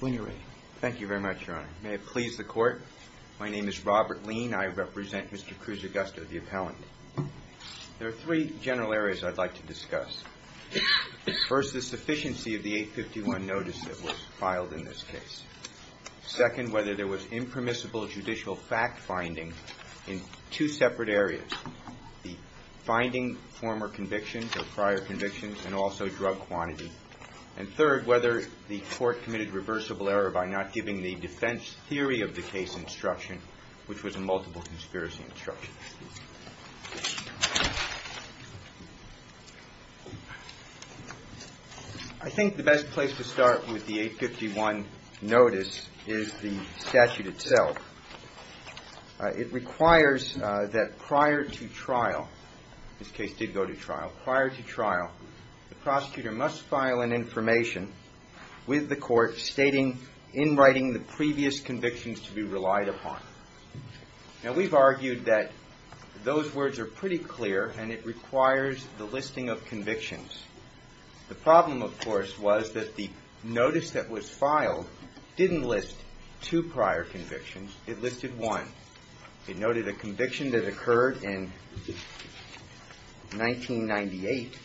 When you're ready. Thank you very much, Your Honor. May it please the court. My name is Robert Lean. I represent Mr. Cruzagosto, the appellant. There are three general areas I'd like to discuss. First, the sufficiency of the 851 notice that was filed in this case. Second, whether there was and third, whether the court committed reversible error by not giving the defense theory of the case instruction, which was a multiple conspiracy instruction. I think the best place to start with the 851 notice is the statute itself. It requires that prior to trial, this case did go to trial, prior to trial, the trial and information with the court stating, in writing, the previous convictions to be relied upon. Now, we've argued that those words are pretty clear and it requires the listing of convictions. The problem, of course, was that the notice that was filed didn't list two prior convictions. It listed one. It noted a conviction that occurred in 1998.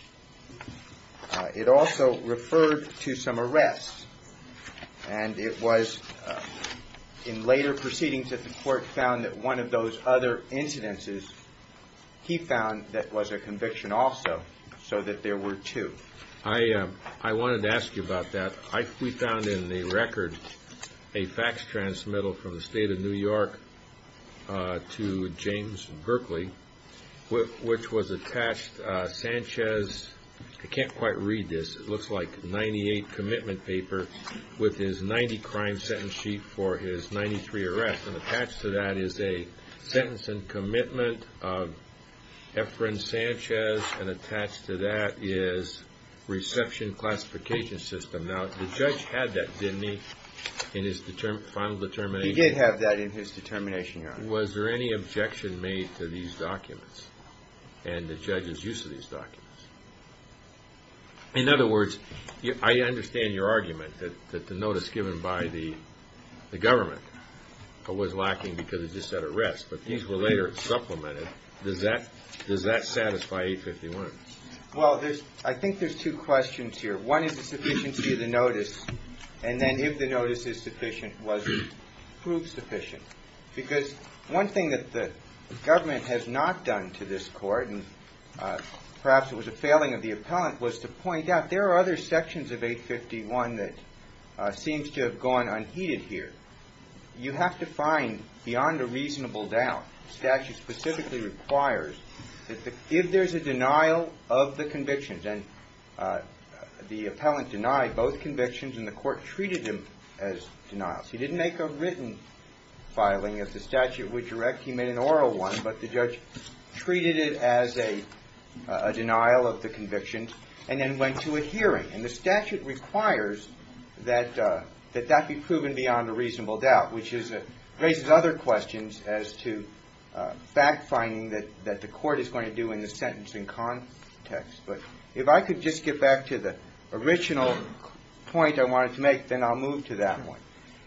It also referred to some arrests. And it was in later proceedings that the court found that one of those other to James Berkeley, which was attached Sanchez. I can't quite read this. It looks like 98 commitment paper with his 90 crime sentence sheet for his 93 arrests. And attached to that is a sentence and commitment of Efren Sanchez. And attached to that is reception classification system. Now, the judge had that, didn't he, in his final determination? He did have that in his determination, Your Honor. Was there any objection made to these documents and the judge's use of these documents? In other words, I understand your argument that the notice given by the government was lacking because it just said arrests. But these were later supplemented. Does that satisfy 851? Well, I think there's two questions here. One is the sufficiency of the notice. And then if the notice is sufficient, was it proved sufficient? Because one thing that the government has not done to this court, and perhaps it was a failing of the appellant, was to point out there are other sections of 851 that seems to have gone unheeded here. You have to find beyond a reasonable doubt, statute specifically requires, if there's a denial of the convictions, and the appellant denied both convictions and the court treated it as a denial of the convictions and then went to a hearing. And the statute requires that that be proven beyond a reasonable doubt, which raises other questions as to fact-finding that the court is going to do in the sentencing context. But if I could just get back to the original point I wanted to make, then I'll move to that one.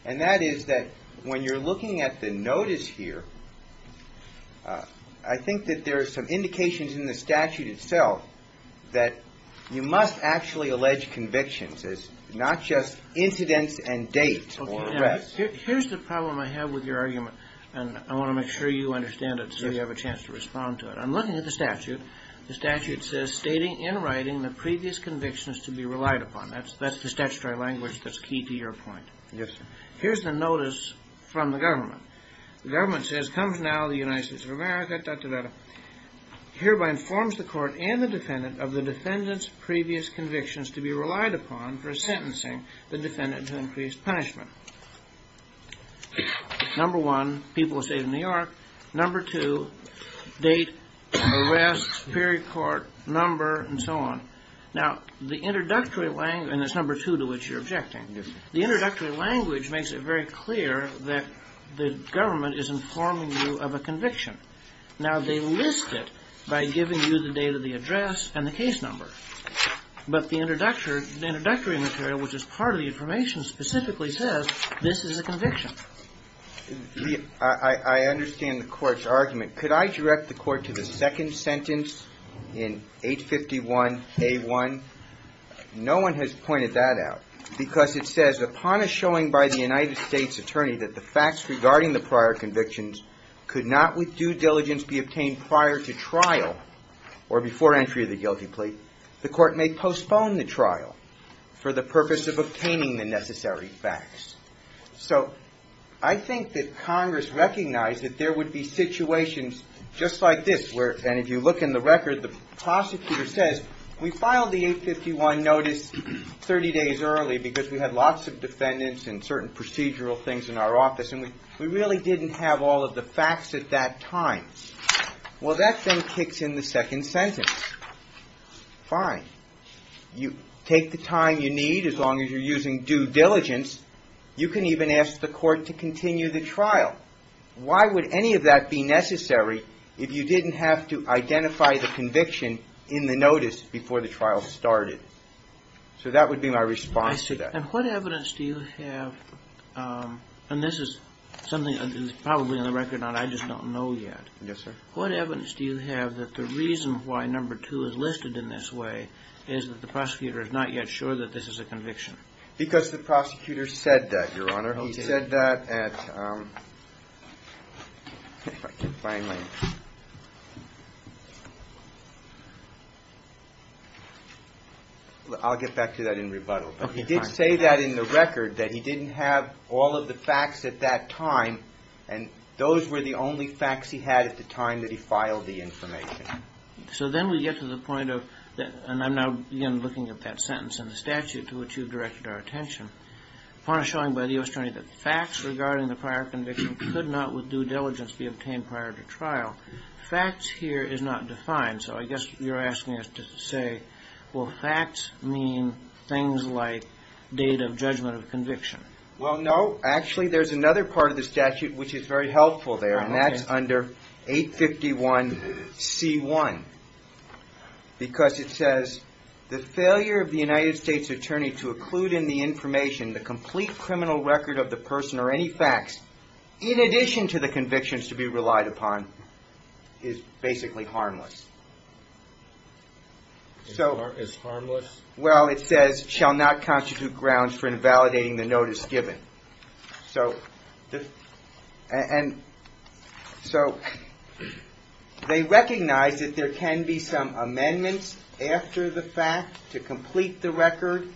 And that is that when you're looking at the notice here, I think that there are some indications in the statute itself that you must actually allege convictions, not just incidents and dates or arrests. Here's the problem I have with your argument, and I want to make sure you understand it so you have a chance to respond to it. I'm looking at the statute. The statute says, stating in writing the previous convictions to be relied upon. That's the statutory language that's key to your point. Yes, sir. Here's the notice from the government. The government says, comes now the United States of America, da-da-da-da. Hereby informs the court and the defendant of the defendant's previous convictions to be relied upon for sentencing the defendant to increased punishment. Number one, people were saved in New York. Number two, date, arrests, period, court, number, and so on. Now, the introductory language, and it's number two to which you're objecting, the introductory language makes it very clear that the government is informing you of a conviction. Now, they list it by giving you the date of the address and the case number. But the introductory material, which is part of the information, specifically says this is a conviction. I understand the court's argument. Could I direct the court to the second sentence in 851A1? No one has pointed that out because it says, upon a showing by the United States attorney that the facts regarding the prior convictions could not with due diligence be obtained prior to trial or before entry of the guilty plea, the court may postpone the trial for the purpose of obtaining the necessary facts. So I think that Congress recognized that there would be situations just like this where, and if you look in the record, the prosecutor says, we filed the 851 notice 30 days early because we had lots of defendants and certain procedural things in our office, and we really didn't have all of the facts at that time. Well, that then kicks in the second sentence. Fine. You take the time you need, as long as you're using due diligence. You can even ask the court to continue the trial. Why would any of that be necessary if you didn't have to identify the conviction in the notice before the trial started? So that would be my response to that. And what evidence do you have, and this is something that is probably on the record and I just don't know yet. Yes, sir. What evidence do you have that the reason why number two is listed in this way is that the prosecutor is not yet sure that this is a conviction? Because the prosecutor said that, Your Honor. He said that at, if I can find my, I'll get back to that in rebuttal. But he did say that in the record, that he didn't have all of the facts at that time, and those were the only facts he had at the time that he filed the information. So then we get to the point of, and I'm now again looking at that sentence in the statute to which you've directed our attention, a point showing by the U.S. Attorney that facts regarding the prior conviction could not with due diligence be obtained prior to trial. Facts here is not defined, so I guess you're asking us to say, well, facts mean things like date of judgment of conviction. Well, no. Actually, there's another part of the statute which is very helpful there, and that's under 851C1. Because it says, the failure of the United States Attorney to include in the information the complete criminal record of the person or any facts, in addition to the convictions to be relied upon, is basically harmless. Is harmless? Well, it says, shall not constitute grounds for invalidating the notice given. And so they recognize that there can be some amendments after the fact to complete the record,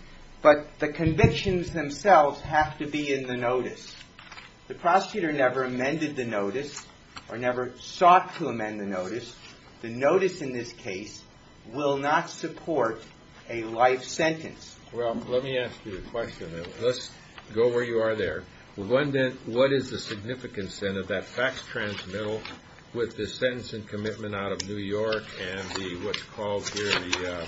but the convictions themselves have to be in the notice. The prosecutor never amended the notice or never sought to amend the notice. The notice in this case will not support a life sentence. Well, let me ask you a question. Let's go where you are there. What is the significance, then, of that facts transmittal with the sentence and commitment out of New York and what's called here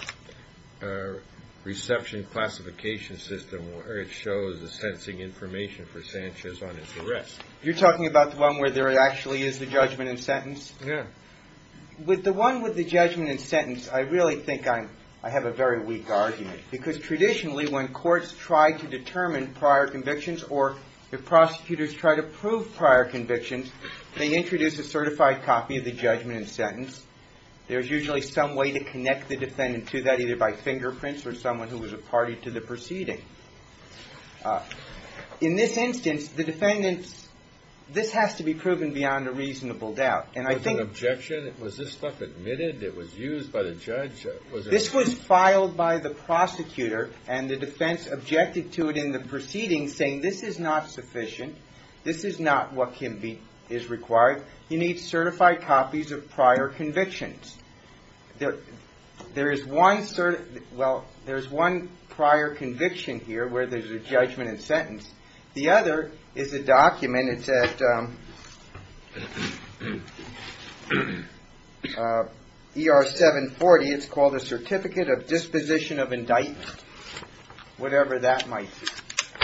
the reception classification system where it shows the sentencing information for Sanchez on his arrest? You're talking about the one where there actually is the judgment and sentence? Yeah. With the one with the judgment and sentence, I really think I have a very weak argument. Because traditionally, when courts try to determine prior convictions or the prosecutors try to prove prior convictions, they introduce a certified copy of the judgment and sentence. There's usually some way to connect the defendant to that, either by fingerprints or someone who was a party to the proceeding. In this instance, the defendants – this has to be proven beyond a reasonable doubt. Was it an objection? Was this stuff admitted? It was used by the judge? This was filed by the prosecutor and the defense objected to it in the proceeding, saying this is not sufficient. This is not what can be – is required. You need certified copies of prior convictions. There is one – well, there's one prior conviction here where there's a judgment and sentence. The other is a document. It's at ER 740. It's called a Certificate of Disposition of Indictment, whatever that might be.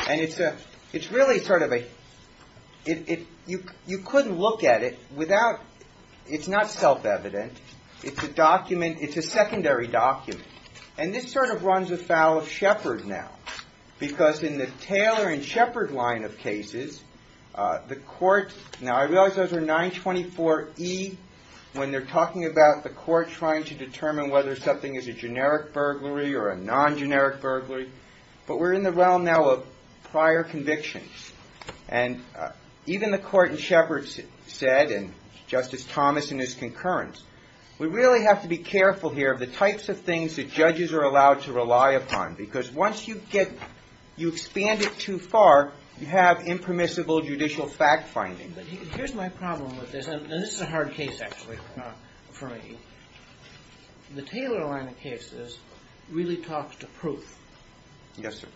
And it's really sort of a – you couldn't look at it without – it's not self-evident. It's a document – it's a secondary document. And this sort of runs afoul of Shepard now because in the Taylor and Shepard line of cases, the court – now, I realize those are 924E when they're talking about the court trying to determine whether something is a generic burglary or a non-generic burglary, but we're in the realm now of prior convictions. And even the court in Shepard said, and Justice Thomas and his concurrence, we really have to be careful here of the types of things that judges are allowed to rely upon because once you get – you expand it too far, you have impermissible judicial fact-finding. But here's my problem with this, and this is a hard case actually for me. The Taylor line of cases really talks to proof. Yes, sir.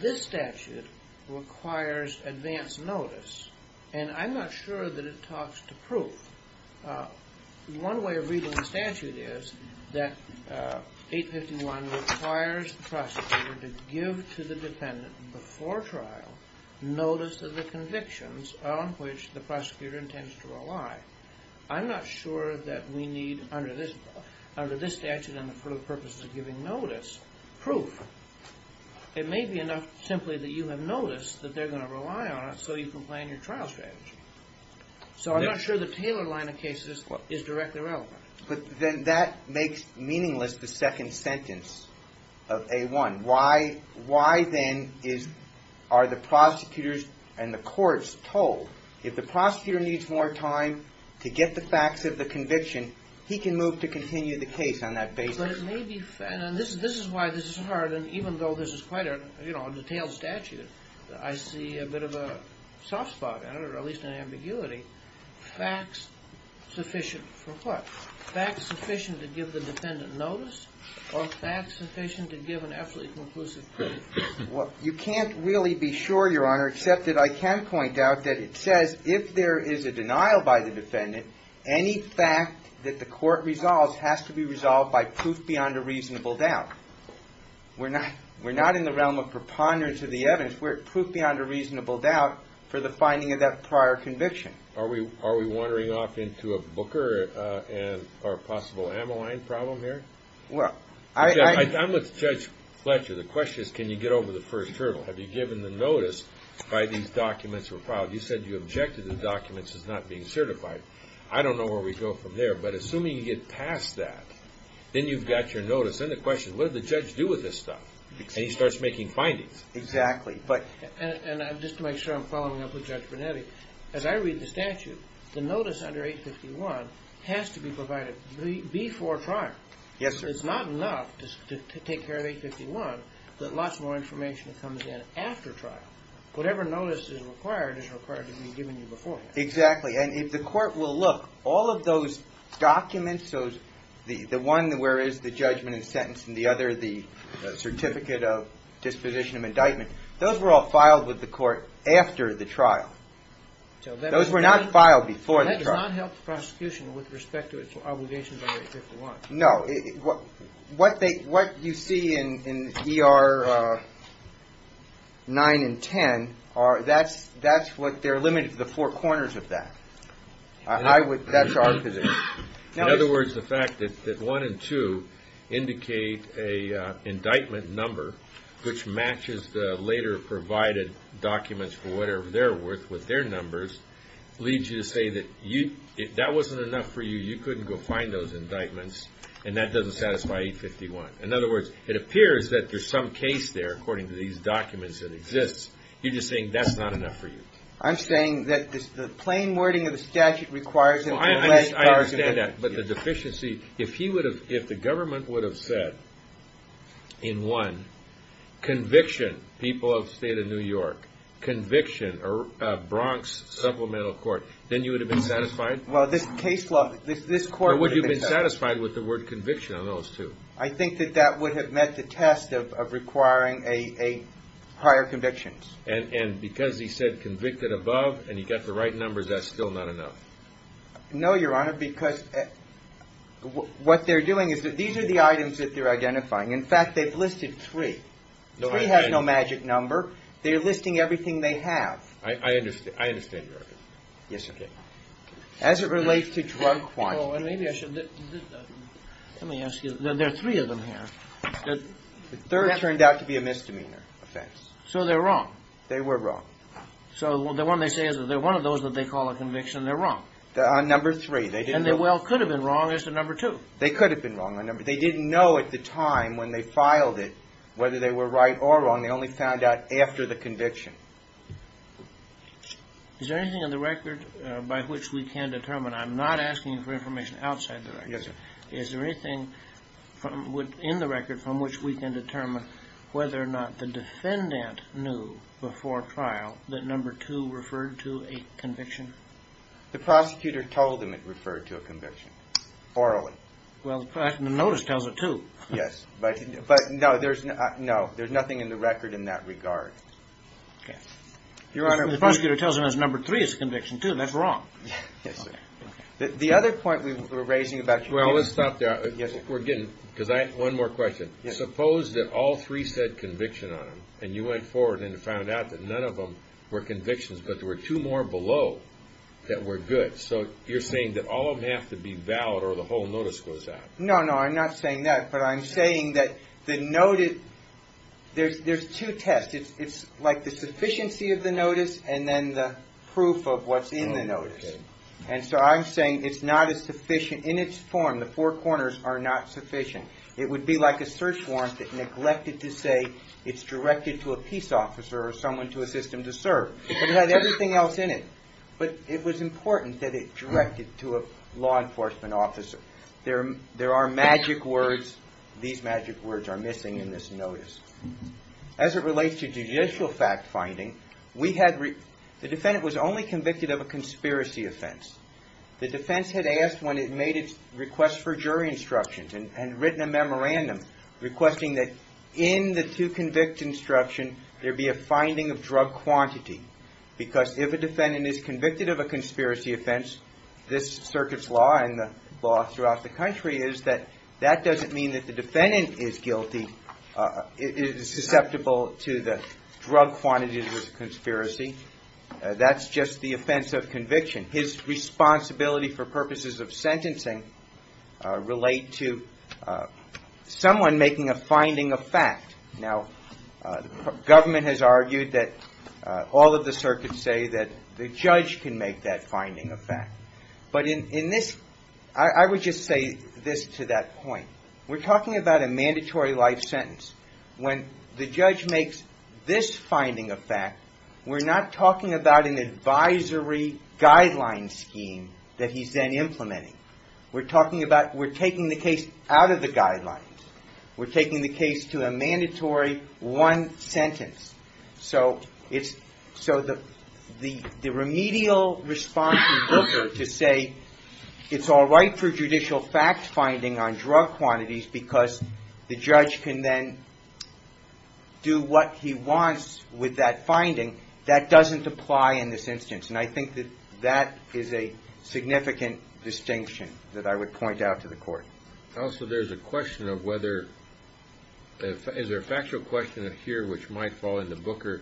This statute requires advance notice, and I'm not sure that it talks to proof. One way of reading the statute is that 851 requires the prosecutor to give to the dependent before trial notice of the convictions on which the prosecutor intends to rely. I'm not sure that we need, under this statute and for the purposes of giving notice, proof. It may be enough simply that you have noticed that they're going to rely on it so you can plan your trial strategy. So I'm not sure the Taylor line of cases is directly relevant. But then that makes meaningless the second sentence of A1. Why then are the prosecutors and the courts told if the prosecutor needs more time to get the facts of the conviction, he can move to continue the case on that basis? But it may be – and this is why this is hard, and even though this is quite a detailed statute, I see a bit of a soft spot in it, or at least an ambiguity. Facts sufficient for what? Facts sufficient to give the defendant notice or facts sufficient to give an absolutely conclusive proof? Well, you can't really be sure, Your Honor, except that I can point out that it says if there is a denial by the defendant, any fact that the court resolves has to be resolved by proof beyond a reasonable doubt. We're not in the realm of preponderance of the evidence. We're proof beyond a reasonable doubt for the finding of that prior conviction. Are we wandering off into a Booker or a possible Ammaline problem here? Well, I – I'm with Judge Fletcher. The question is can you get over the first hurdle? Have you given the notice by these documents were filed? You said you objected to the documents as not being certified. I don't know where we go from there. But assuming you get past that, then you've got your notice. Then the question is what did the judge do with this stuff? And he starts making findings. Exactly. And just to make sure I'm following up with Judge Brunetti, as I read the statute, the notice under 851 has to be provided before trial. Yes, sir. It's not enough to take care of 851, but lots more information comes in after trial. Whatever notice is required is required to be given you beforehand. Exactly. And if the court will look, all of those documents, the one where is the judgment and sentence and the other, the certificate of disposition of indictment, those were all filed with the court after the trial. Those were not filed before the trial. That does not help the prosecution with respect to its obligations under 851. No. What you see in ER 9 and 10, that's what – they're limited to the four corners of that. That's our position. In other words, the fact that one and two indicate an indictment number which matches the later provided documents for whatever they're worth with their numbers leads you to say that if that wasn't enough for you, you couldn't go find those indictments, and that doesn't satisfy 851. In other words, it appears that there's some case there according to these documents that exists. You're just saying that's not enough for you. I'm saying that the plain wording of the statute requires a direct argument. I understand that. But the deficiency – if he would have – if the government would have said in one, conviction, people of the State of New York, conviction, Bronx Supplemental Court, then you would have been satisfied? Well, this case law – this court would have been satisfied. Or would you have been satisfied with the word conviction on those two? I think that that would have met the test of requiring a higher conviction. And because he said convicted above and he got the right numbers, that's still not enough? No, Your Honor, because what they're doing is – these are the items that they're identifying. In fact, they've listed three. Three has no magic number. They're listing everything they have. I understand your argument. Yes, sir. As it relates to drug quantity. Well, maybe I should – let me ask you – there are three of them here. The third turned out to be a misdemeanor offense. So they're wrong. They were wrong. So the one they say is that they're one of those that they call a conviction. They're wrong. On number three. And they well could have been wrong as to number two. They could have been wrong. They didn't know at the time when they filed it whether they were right or wrong. They only found out after the conviction. Is there anything in the record by which we can determine – I'm not asking for information outside the record. Yes, sir. Is there anything in the record from which we can determine whether or not the defendant knew before trial that number two referred to a conviction? The prosecutor told them it referred to a conviction. Orally. Well, the notice tells it to. Yes. But no, there's nothing in the record in that regard. Okay. Your Honor. The prosecutor tells them that number three is a conviction, too. That's wrong. Yes, sir. The other point we were raising about – Well, let's stop there. Yes, sir. We're getting – because I have one more question. Suppose that all three said conviction on them, and you went forward and found out that none of them were convictions, but there were two more below that were good. So you're saying that all of them have to be valid or the whole notice goes out. No, no. I'm not saying that. But I'm saying that the notice – there's two tests. And so I'm saying it's not a sufficient – in its form, the four corners are not sufficient. It would be like a search warrant that neglected to say it's directed to a peace officer or someone to assist him to serve. It had everything else in it. But it was important that it directed to a law enforcement officer. There are magic words. These magic words are missing in this notice. As it relates to judicial fact-finding, we had – the defendant was only convicted of a conspiracy offense. The defense had asked when it made its request for jury instructions and had written a memorandum requesting that in the to-convict instruction, there be a finding of drug quantity because if a defendant is convicted of a conspiracy offense, this circuit's law and the law throughout the country is that that doesn't mean that the defendant is guilty, is susceptible to the drug quantity of the conspiracy. That's just the offense of conviction. His responsibility for purposes of sentencing relate to someone making a finding of fact. Now, government has argued that all of the circuits say that the judge can make that finding of fact. But in this – I would just say this to that point. We're talking about a mandatory life sentence. When the judge makes this finding of fact, we're not talking about an advisory guideline scheme that he's then implementing. We're talking about – we're taking the case out of the guidelines. We're taking the case to a mandatory one sentence. So it's – so the remedial response to Booker to say it's all right for judicial fact finding on drug quantities because the judge can then do what he wants with that finding, that doesn't apply in this instance. And I think that that is a significant distinction that I would point out to the court. Also, there's a question of whether – is there a factual question here which might fall in the Booker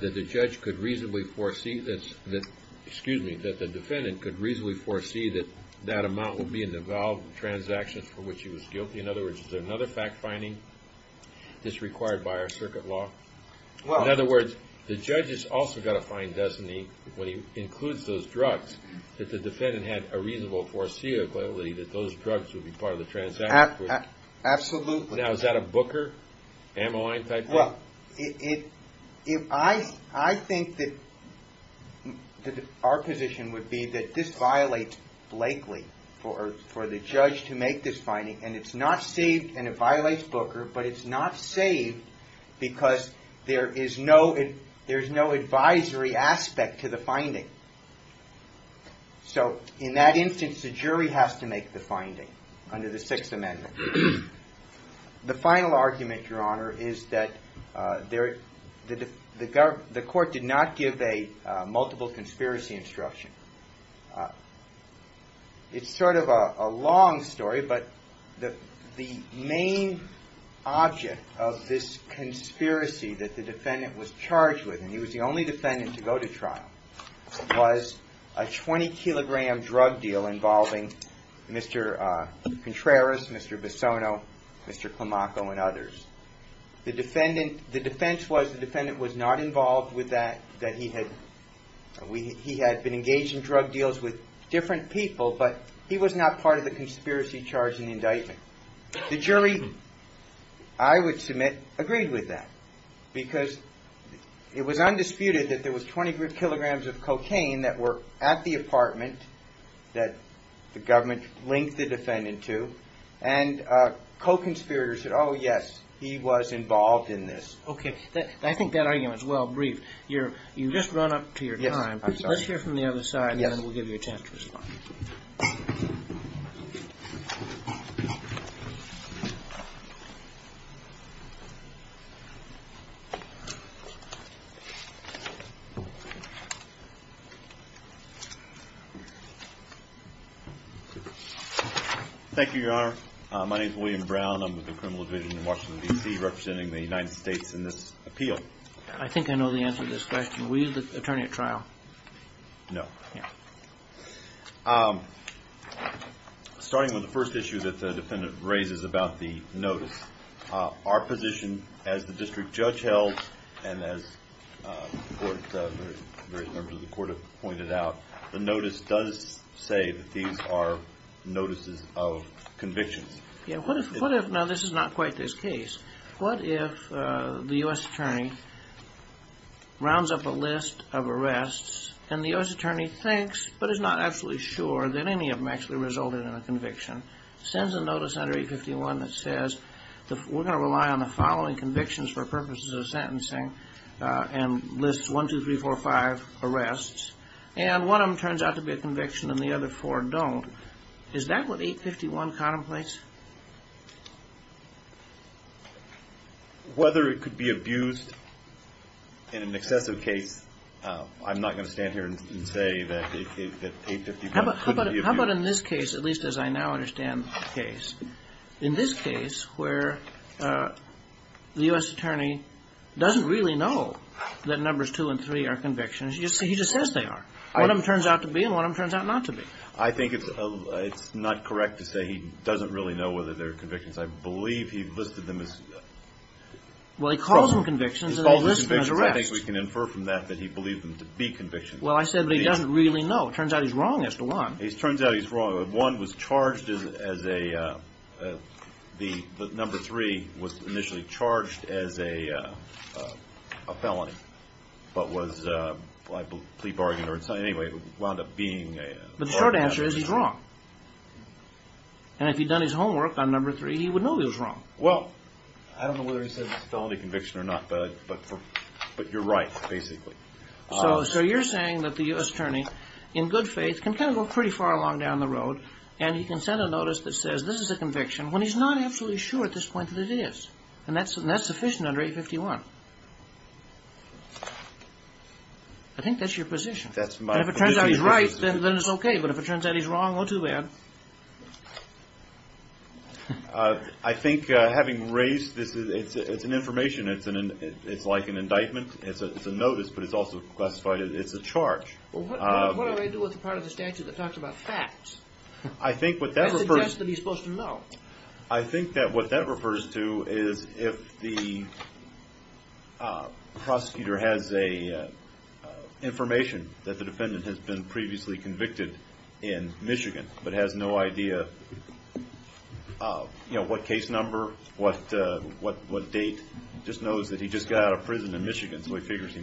that the judge could reasonably foresee – excuse me, that the defendant could reasonably foresee that that amount would be in the valid transactions for which he was guilty? In other words, is there another fact finding that's required by our circuit law? In other words, the judge has also got to find, doesn't he, when he includes those drugs, that the defendant had a reasonable foreseeability that those drugs would be part of the transactions? Absolutely. Now, is that a Booker ammoing type thing? Well, I think that our position would be that this violates Blakely for the judge to make this finding, and it's not saved, and it violates Booker, but it's not saved because there is no advisory aspect to the finding. So in that instance, the jury has to make the finding under the Sixth Amendment. The final argument, Your Honor, is that the court did not give a multiple conspiracy instruction. It's sort of a long story, but the main object of this conspiracy that the defendant was charged with, and he was the only defendant to go to trial, was a 20-kilogram drug deal involving Mr. Contreras, Mr. Bissono, Mr. Climaco, and others. The defense was the defendant was not involved with that, that he had been engaged in drug deals with different people, but he was not part of the conspiracy charge in the indictment. The jury, I would submit, agreed with that because it was undisputed that there was 20 kilograms of cocaine that were at the apartment that the government linked the defendant to, and co-conspirators said, oh, yes, he was involved in this. I think that argument is well briefed. You've just run up to your time. Let's hear from the other side, and then we'll give you a chance to respond. Thank you, Your Honor. My name is William Brown. I'm with the Criminal Division in Washington, D.C., representing the United States in this appeal. I think I know the answer to this question. Were you the attorney at trial? No. Starting with the first issue that the defendant raises about the notice, our position as the district judge held, and as various members of the court have pointed out, the notice does say that these are notices of convictions. Now, this is not quite this case. What if the U.S. attorney rounds up a list of arrests, and the U.S. attorney thinks, but is not absolutely sure, that any of them actually resulted in a conviction, sends a notice under 851 that says, we're going to rely on the following convictions for purposes of sentencing, and lists 1, 2, 3, 4, 5 arrests, and one of them turns out to be a conviction and the other four don't? Is that what 851 contemplates? Whether it could be abused in an excessive case, I'm not going to stand here and say that 851 couldn't be abused. How about in this case, at least as I now understand the case, in this case where the U.S. attorney doesn't really know that numbers 2 and 3 are convictions, he just says they are. One of them turns out to be, and one of them turns out not to be. I think it's not correct to say he doesn't really know whether they're convictions. I believe he listed them as... Well, he calls them convictions, and they list them as arrests. He calls them convictions. I think we can infer from that that he believed them to be convictions. Well, I said, but he doesn't really know. It turns out he's wrong as to 1. It turns out he's wrong. 1 was charged as a... the number 3 was initially charged as a felony, but was plea bargained or something. Anyway, it wound up being... But the short answer is he's wrong. And if he'd done his homework on number 3, he would know he was wrong. Well, I don't know whether he said it was a felony conviction or not, but you're right, basically. So you're saying that the U.S. attorney, in good faith, can kind of go pretty far along down the road, and he can send a notice that says this is a conviction when he's not absolutely sure at this point that it is. And that's sufficient under 851. I think that's your position. That's my position. And if it turns out he's right, then it's okay. But if it turns out he's wrong, oh, too bad. I think having raised this, it's an information. It's like an indictment. It's a notice, but it's also classified as a charge. Well, what do I do with the part of the statute that talks about facts? That suggests that he's supposed to know. I think that what that refers to is if the prosecutor has information that the defendant has been previously convicted in Michigan, but has no idea what case number, what date, just knows that he just got out of prison in Michigan, so he figures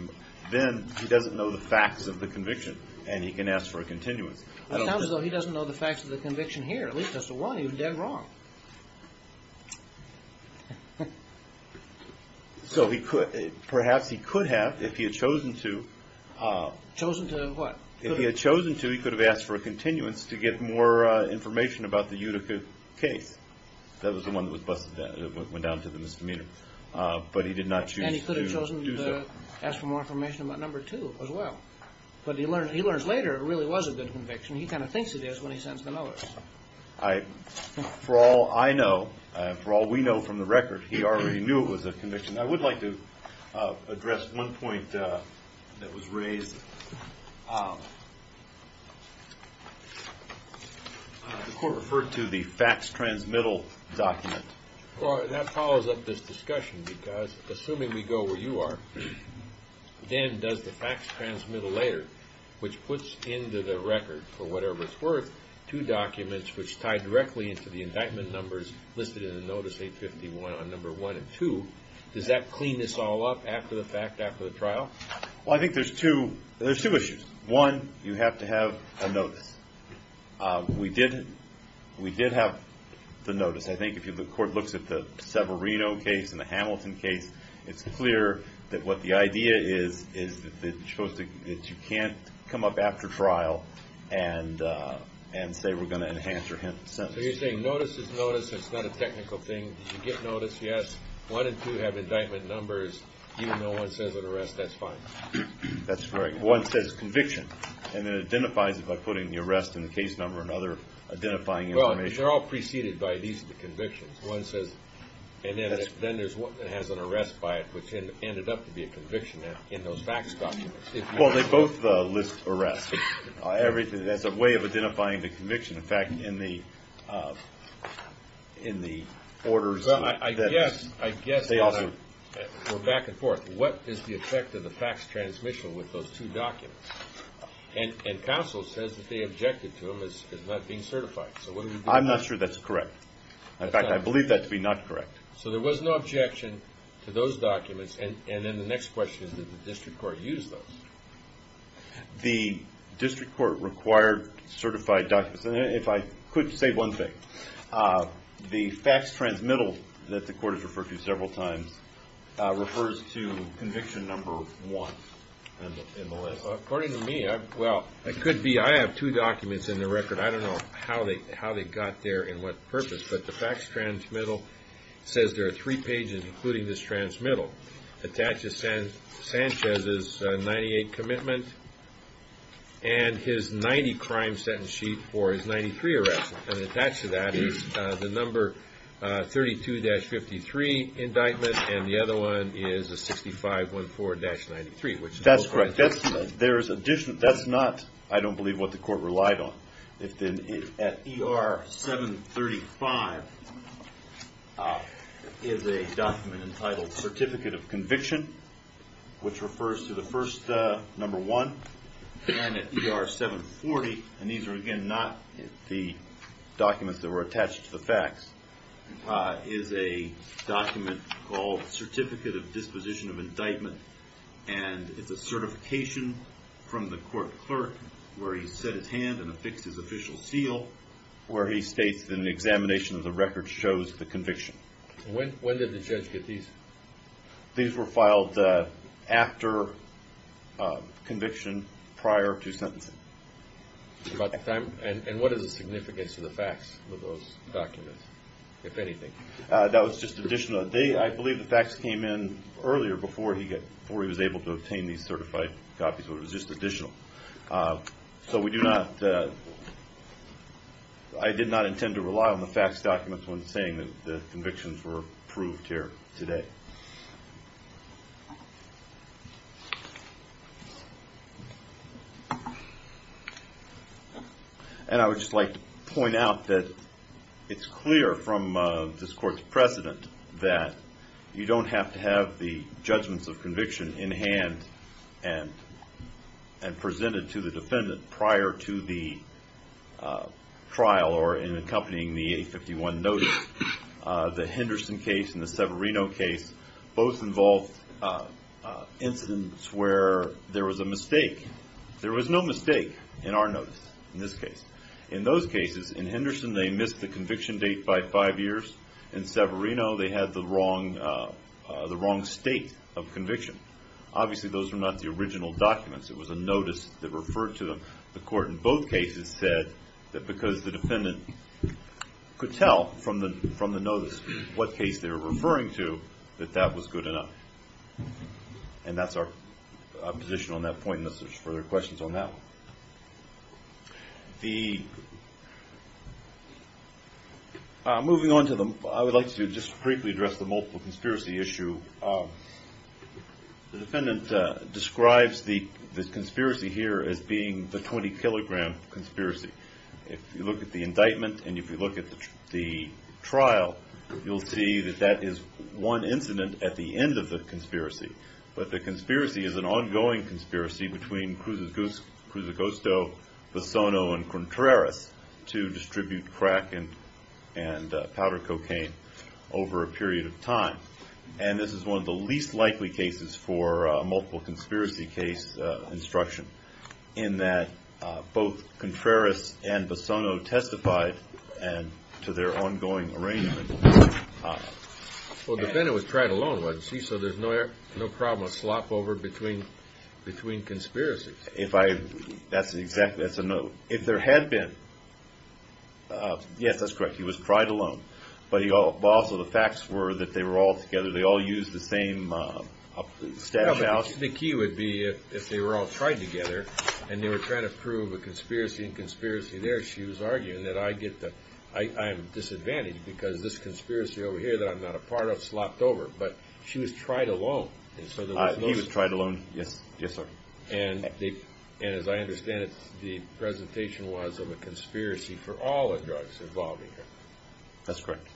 then he doesn't know the facts of the conviction, and he can ask for a continuance. It sounds as though he doesn't know the facts of the conviction here. At least as to why he was dead wrong. So perhaps he could have, if he had chosen to. Chosen to what? If he had chosen to, he could have asked for a continuance to get more information about the Utica case. That was the one that went down to the misdemeanor. But he did not choose to do so. And he could have chosen to ask for more information about number two as well. But he learns later it really was a good conviction. He kind of thinks it is when he sends the notice. For all I know, for all we know from the record, he already knew it was a conviction. I would like to address one point that was raised. The court referred to the facts transmittal document. That follows up this discussion, because assuming we go where you are, Dan does the facts transmittal later, which puts into the record, for whatever it's worth, two documents which tie directly into the indictment numbers listed in the notice 851 on number one and two. Does that clean this all up after the fact, after the trial? Well, I think there's two issues. One, you have to have a notice. We did have the notice. I think if the court looks at the Severino case and the Hamilton case, it's clear that what the idea is, is that you can't come up after trial and say we're going to enhance your sentence. So you're saying notice is notice, it's not a technical thing. You get notice, yes. One and two have indictment numbers, even though one says an arrest, that's fine. That's right. One says conviction, and it identifies it by putting the arrest in the case number and other identifying information. Well, they're all preceded by these convictions. One says, and then there's one that has an arrest by it, which ended up to be a conviction in those facts documents. Well, they both list arrest as a way of identifying the conviction. In fact, in the orders that they also- I guess we're back and forth. What is the effect of the facts transmission with those two documents? And counsel says that they objected to them as not being certified. So what do we do about that? I'm not sure that's correct. In fact, I believe that to be not correct. So there was no objection to those documents. And then the next question is, did the district court use those? The district court required certified documents. And if I could say one thing, the facts transmittal that the court has referred to several times refers to conviction number one in the list. According to me, well, it could be I have two documents in the record. I don't know how they got there and what purpose. But the facts transmittal says there are three pages, including this transmittal that attaches Sanchez's 98 commitment and his 90 crime sentence sheet for his 93 arrest. And attached to that is the number 32-53 indictment. And the other one is a 6514-93. That's correct. That's not, I don't believe, what the court relied on. At ER 735 is a document entitled Certificate of Conviction, which refers to the first number one. And at ER 740, and these are again not the documents that were attached to the facts, is a document called Certificate of Disposition of Indictment. And it's a certification from the court clerk where he set his hand and affixed his official seal, where he states that an examination of the record shows the conviction. When did the judge get these? These were filed after conviction, prior to sentencing. And what is the significance to the facts of those documents, if anything? That was just additional. I believe the facts came in earlier, before he was able to obtain these certified copies, so it was just additional. So we do not, I did not intend to rely on the facts documents when saying that the convictions were approved here today. And I would just like to point out that it's clear from this court's precedent that you don't have to have the judgments of conviction in hand and presented to the defendant prior to the trial or in accompanying the 851 notice. The Henderson case and the Severino case both involved incidents where there was a mistake. There was no mistake in our notice, in this case. In those cases, in Henderson they missed the conviction date by five years. In Severino they had the wrong state of conviction. Obviously those were not the original documents. It was a notice that referred to them. The court in both cases said that because the defendant could tell from the notice what case they were referring to, that that was good enough. And that's our position on that point unless there's further questions on that one. Moving on to the, I would like to just briefly address the multiple conspiracy issue. The defendant describes the conspiracy here as being the 20-kilogram conspiracy. If you look at the indictment and if you look at the trial, you'll see that that is one incident at the end of the conspiracy. But the conspiracy is an ongoing conspiracy between Cruz Agosto, Fasono, and Contreras to distribute crack and powder cocaine over a period of time. And this is one of the least likely cases for a multiple conspiracy case instruction in that both Contreras and Fasono testified to their ongoing arraignment. Well, the defendant was tried alone, wasn't he? So there's no problem of slop over between conspiracies. That's exactly, that's a note. If there had been, yes, that's correct, he was tried alone. But also the facts were that they were all together. They all used the same stash house. The key would be if they were all tried together and they were trying to prove a conspiracy and conspiracy there, she was arguing that I get the, I'm disadvantaged because this conspiracy over here that I'm not a part of slopped over. But she was tried alone. He was tried alone, yes, yes, sir. And as I understand it, the presentation was of a conspiracy for all the drugs involving her. That's correct.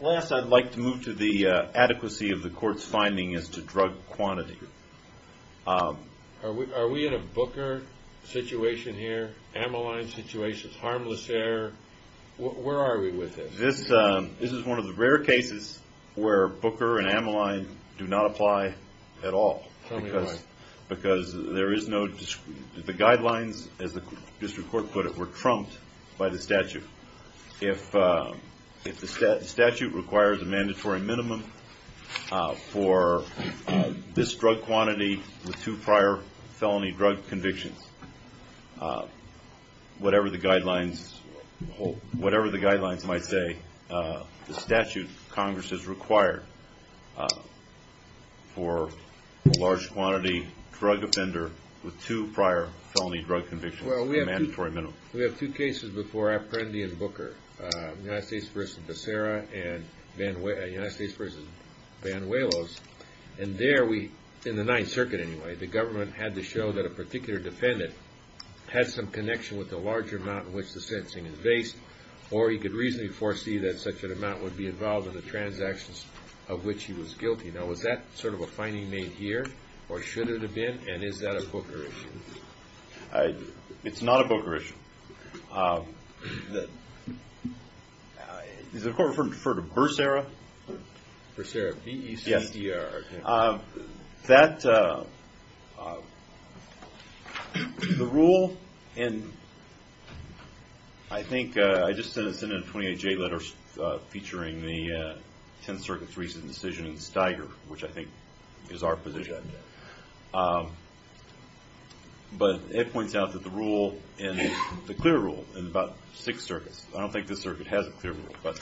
Last, I'd like to move to the adequacy of the court's finding as to drug quantity. Are we in a Booker situation here, Amaline situation, harmless there? Where are we with this? This is one of the rare cases where Booker and Amaline do not apply at all. Because there is no, the guidelines, as the district court put it, were trumped by the statute. If the statute requires a mandatory minimum for this drug quantity with two prior felony drug convictions, whatever the guidelines might say, the statute Congress has required for a large quantity drug offender with two prior felony drug convictions is a mandatory minimum. Well, we have two cases before Apprendi and Booker, United States v. Becerra and United States v. Banuelos. And there we, in the Ninth Circuit anyway, the government had to show that a particular defendant had some connection with the larger amount in which the sentencing is based or he could reasonably foresee that such an amount would be involved in the transactions of which he was guilty. Now, was that sort of a finding made here, or should it have been, and is that a Booker issue? It's not a Booker issue. Does the court refer to Becerra? Becerra, B-E-C-E-R. That, the rule in, I think, I just sent in a 28-J letter featuring the Tenth Circuit's recent decision in Steiger, which I think is our position. But it points out that the rule, the clear rule in about six circuits, I don't think this circuit has a clear rule, but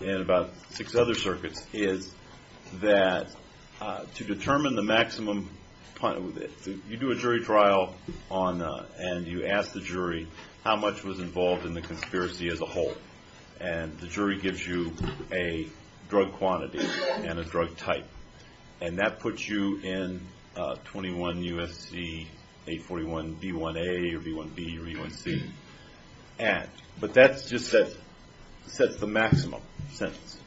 in about six other circuits, is that to determine the maximum, you do a jury trial and you ask the jury how much was involved in the conspiracy as a whole. And the jury gives you a drug quantity and a drug type. And that puts you in 21 U.S.C. 841 B1A or B1B or B1C. But that just sets the maximum sentence.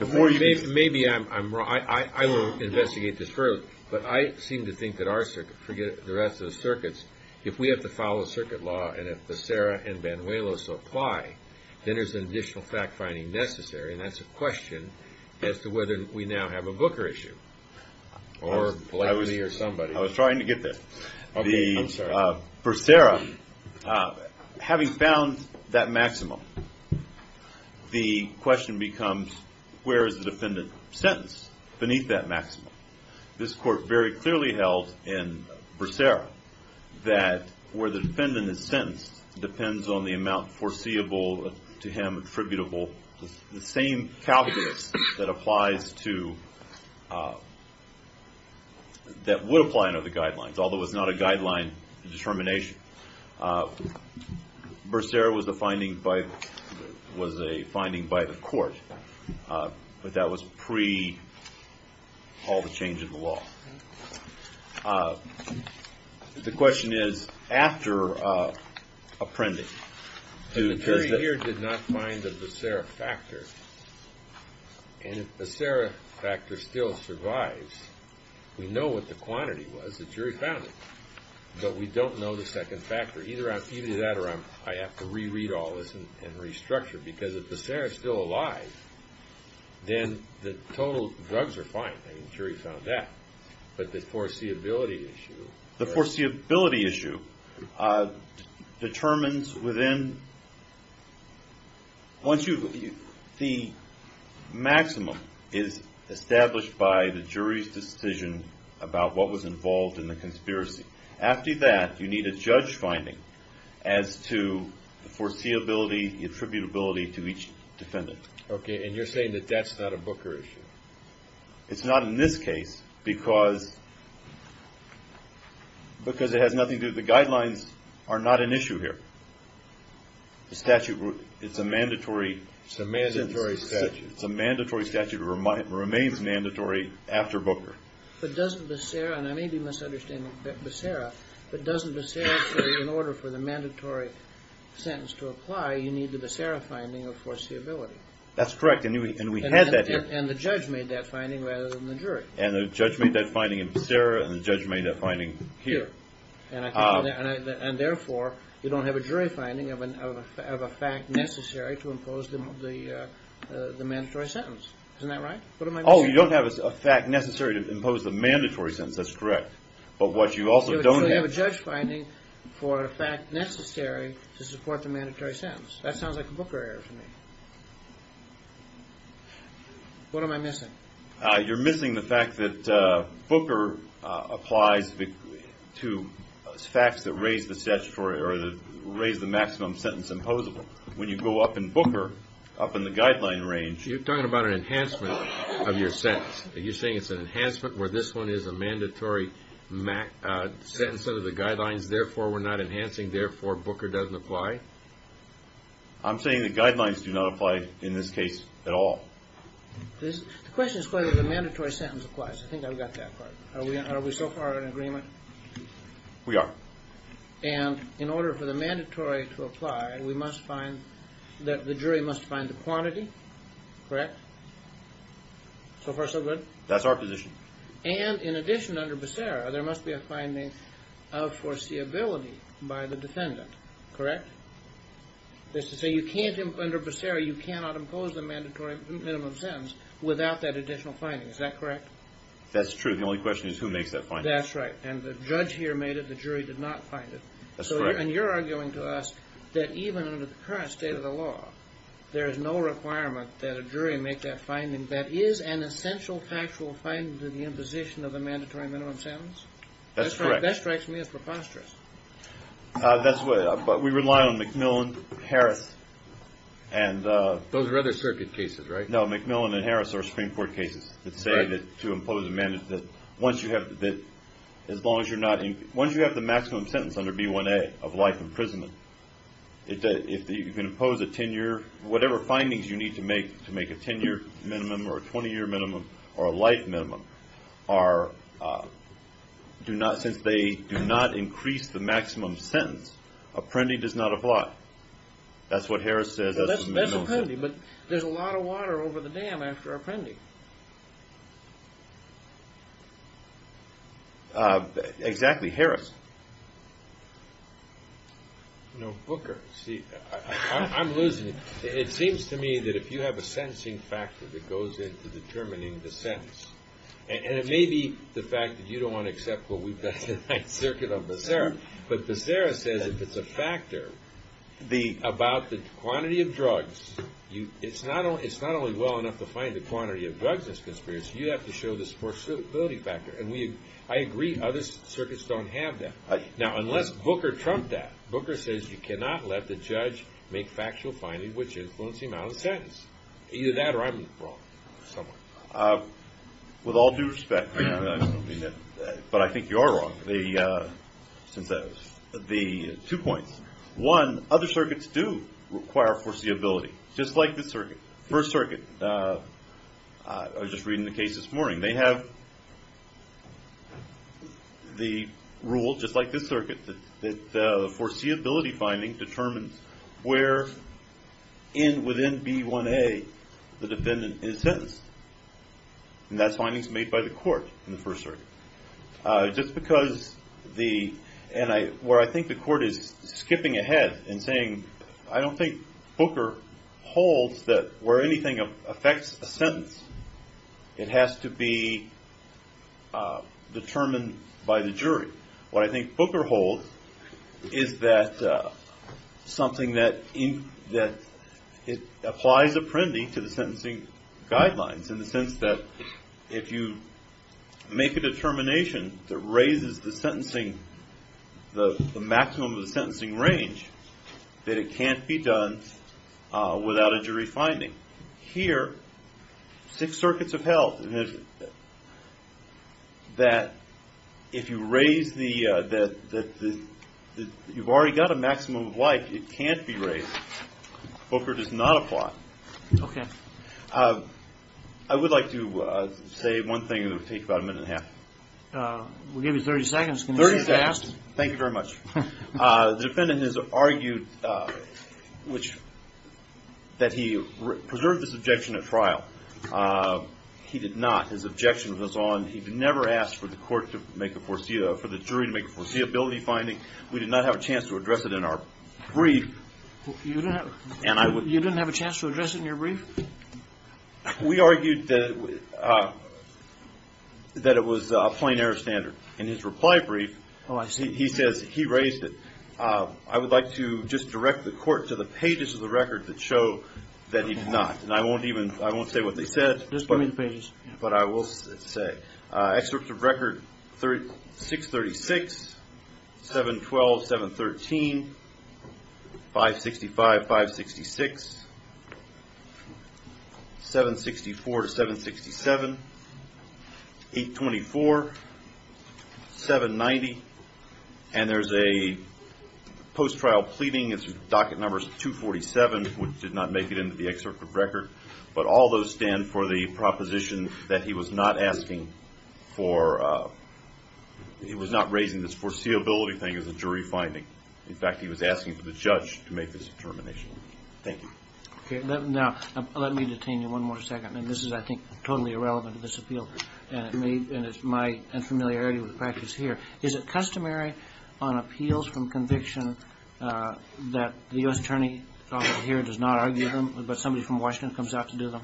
Maybe I'm wrong. I will investigate this further. But I seem to think that our circuit, forget the rest of the circuits, if we have to follow circuit law and if Becerra and Banuelos apply, then there's an additional fact-finding necessary, and that's a question as to whether we now have a Booker issue. I was trying to get there. Becerra, having found that maximum, the question becomes, where is the defendant sentenced beneath that maximum? This court very clearly held in Becerra that where the defendant is sentenced depends on the amount foreseeable to him attributable, the same calculus that applies to, that would apply under the guidelines, although it's not a guideline determination. Becerra was a finding by the court, but that was pre-all the change of the law. The question is, after apprending. The jury here did not find the Becerra factor. And if Becerra factor still survives, we know what the quantity was. The jury found it, but we don't know the second factor. Either that or I have to reread all this and restructure. Because if Becerra is still alive, then the total drugs are fine. The jury found that. But the foreseeability issue. The foreseeability issue determines within. Once you, the maximum is established by the jury's decision about what was involved in the conspiracy. After that, you need a judge finding as to the foreseeability, the attributability to each defendant. Okay, and you're saying that that's not a Booker issue. It's not in this case because it has nothing to do, the guidelines are not an issue here. The statute, it's a mandatory. It's a mandatory statute. It's a mandatory statute. It remains mandatory after Booker. But doesn't Becerra, and I may be misunderstanding Becerra, but doesn't Becerra say in order for the mandatory sentence to apply, you need the Becerra finding of foreseeability? That's correct, and we had that here. And the judge made that finding rather than the jury. And the judge made that finding in Becerra, and the judge made that finding here. And therefore, you don't have a jury finding of a fact necessary to impose the mandatory sentence. Isn't that right? Oh, you don't have a fact necessary to impose the mandatory sentence. That's correct. But what you also don't have. So you have a judge finding for a fact necessary to support the mandatory sentence. That sounds like a Booker error to me. What am I missing? You're missing the fact that Booker applies to facts that raise the statutory or raise the maximum sentence imposable. When you go up in Booker, up in the guideline range. You're talking about an enhancement of your sentence. Are you saying it's an enhancement where this one is a mandatory sentence under the guidelines, therefore we're not enhancing, therefore Booker doesn't apply? I'm saying the guidelines do not apply in this case at all. The question is whether the mandatory sentence applies. I think I've got that part. Are we so far in agreement? We are. And in order for the mandatory to apply, we must find that the jury must find the quantity. Correct? So far so good? That's our position. And in addition, under Becerra, there must be a finding of foreseeability by the defendant. Correct? That is to say, under Becerra, you cannot impose the mandatory minimum sentence without that additional finding. Is that correct? That's true. The only question is who makes that finding. That's right. And the judge here made it. The jury did not find it. That's correct. And you're arguing to us that even under the current state of the law, there is no requirement that a jury make that finding. That is an essential factual finding to the imposition of the mandatory minimum sentence? That's correct. That strikes me as preposterous. But we rely on McMillan, Harris. Those are other circuit cases, right? No, McMillan and Harris are Supreme Court cases that say that to impose a mandatory, once you have the maximum sentence under B1A of life imprisonment, if you can impose a 10-year, whatever findings you need to make to make a 10-year minimum or a 20-year minimum or a life minimum, since they do not increase the maximum sentence, apprending does not apply. That's what Harris says. That's apprending. But there's a lot of water over the dam after apprending. Exactly. Harris. No, Booker. See, I'm losing it. It seems to me that if you have a sentencing factor that goes into determining the sentence, and it may be the fact that you don't want to accept what we've got tonight's circuit on Becerra, but Becerra says if it's a factor about the quantity of drugs, it's not only well enough to find the quantity of drugs in this conspiracy, you have to show this forcibility factor. And I agree, other circuits don't have that. Now, unless Booker trumped that. Booker says you cannot let the judge make factual findings which influence the amount of the sentence. Either that or I'm wrong. With all due respect, but I think you are wrong. Two points. One, other circuits do require foreseeability, just like this circuit, First Circuit. I was just reading the case this morning. They have the rule, just like this circuit, that the foreseeability finding determines where within B1A the defendant is sentenced. And that finding is made by the court in the First Circuit. Just because the – and where I think the court is skipping ahead and saying, I don't think Booker holds that where anything affects a sentence, it has to be determined by the jury. What I think Booker holds is that something that – it applies apprendee to the sentencing guidelines in the sense that if you make a determination that raises the sentencing, the maximum of the sentencing range, that it can't be done without a jury finding. Here, six circuits have held that if you raise the – you've already got a maximum of life, it can't be raised. Booker does not apply. Okay. I would like to say one thing that would take about a minute and a half. We'll give you 30 seconds. Thank you very much. The defendant has argued that he preserved his objection at trial. He did not. His objection was on – he never asked for the court to make a – for the jury to make a foreseeability finding. We did not have a chance to address it in our brief. You didn't have a chance to address it in your brief? We argued that it was a plain error standard. In his reply brief, he says he raised it. I would like to just direct the court to the pages of the record that show that he did not. And I won't even – I won't say what they said. Just give me the pages. But I will say. Excerpts of record 636, 712, 713, 565, 566, 764 to 767, 824, 790. And there's a post-trial pleading. Its docket number is 247, which did not make it into the excerpt of record. But all those stand for the proposition that he was not asking for – he was not raising this foreseeability thing as a jury finding. In fact, he was asking for the judge to make this determination. Thank you. Okay. Now, let me detain you one more second. And this is, I think, totally irrelevant to this appeal. And it may – and it's my – and familiarity with practice here. Is it customary on appeals from conviction that the U.S. attorney here does not argue but somebody from Washington comes out to do them?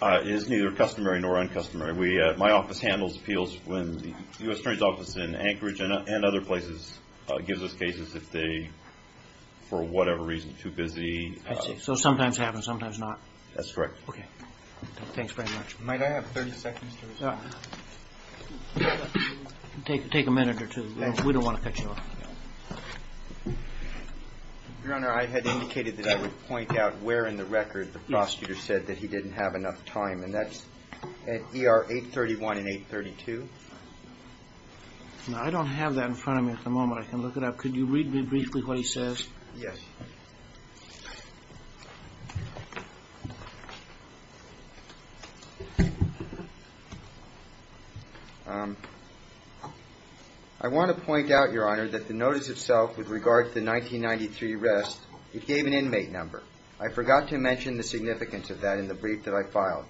It is neither customary nor uncustomary. We – my office handles appeals when the U.S. attorney's office in Anchorage and other places gives us cases if they, for whatever reason, too busy. I see. So sometimes it happens, sometimes not. That's correct. Okay. Thanks very much. Might I have 30 seconds to respond? Take a minute or two. We don't want to cut you off. Your Honor, I had indicated that I would point out where in the record the prosecutor said that he didn't have enough time. And that's at ER 831 and 832. Now, I don't have that in front of me at the moment. I can look it up. Could you read me briefly what he says? Yes. I want to point out, Your Honor, that the notice itself with regard to the 1993 arrest, it gave an inmate number. I forgot to mention the significance of that in the brief that I filed.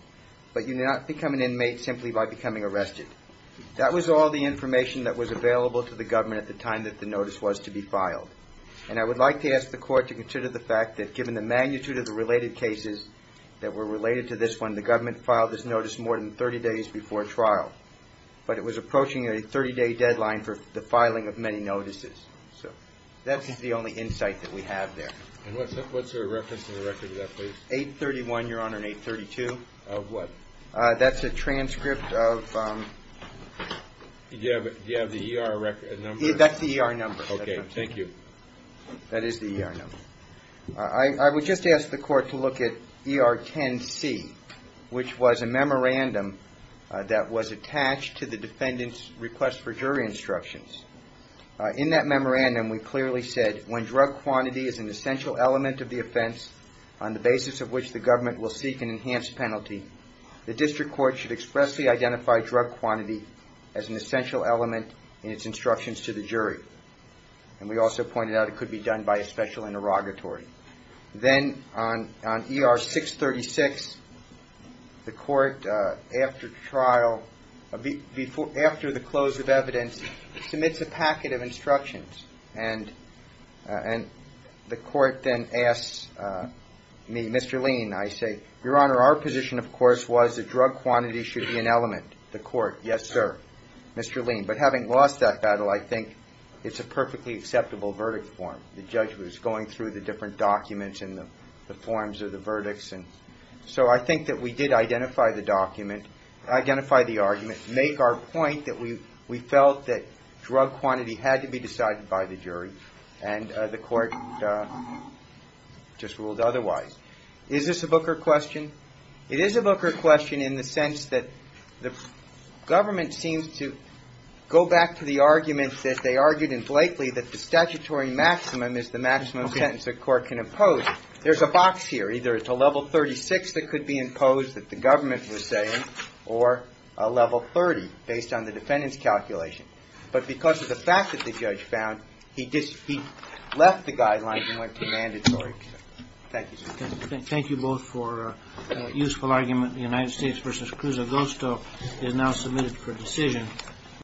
But you do not become an inmate simply by becoming arrested. That was all the information that was available to the government at the time that the notice was to be filed. And I would like to ask the court to consider the fact that given the magnitude of the related cases that were related to this one, the government filed this notice more than 30 days before trial. But it was approaching a 30-day deadline for the filing of many notices. So that's the only insight that we have there. And what's the reference in the record to that, please? 831, Your Honor, and 832. Of what? That's a transcript of... Do you have the ER number? That's the ER number. Okay, thank you. That is the ER number. I would just ask the court to look at ER 10C, which was a memorandum that was attached to the defendant's request for jury instructions. In that memorandum, we clearly said, when drug quantity is an essential element of the offense on the basis of which the government will seek an enhanced penalty, the district court should expressly identify drug quantity as an essential element in its instructions to the jury. And we also pointed out it could be done by a special interrogatory. Then on ER 636, the court, after the close of evidence, submits a packet of instructions. And the court then asks me, Mr. Lean, I say, Your Honor, our position, of course, was that drug quantity should be an element. The court, yes, sir, Mr. Lean. But having lost that battle, I think it's a perfectly acceptable verdict form. The judge was going through the different documents and the forms of the verdicts. So I think that we did identify the argument, make our point that we felt that drug quantity had to be decided by the jury, and the court just ruled otherwise. Is this a Booker question? It is a Booker question in the sense that the government seems to go back to the argument that they argued in Blakely that the statutory maximum is the maximum sentence a court can impose. There's a box here. Either it's a level 36 that could be imposed that the government was saying or a level 30 based on the defendant's calculation. But because of the fact that the judge found, he left the guidelines and went to mandatory. Thank you, sir. Thank you both for a useful argument. The United States v. Cruz Agosto is now submitted for decision.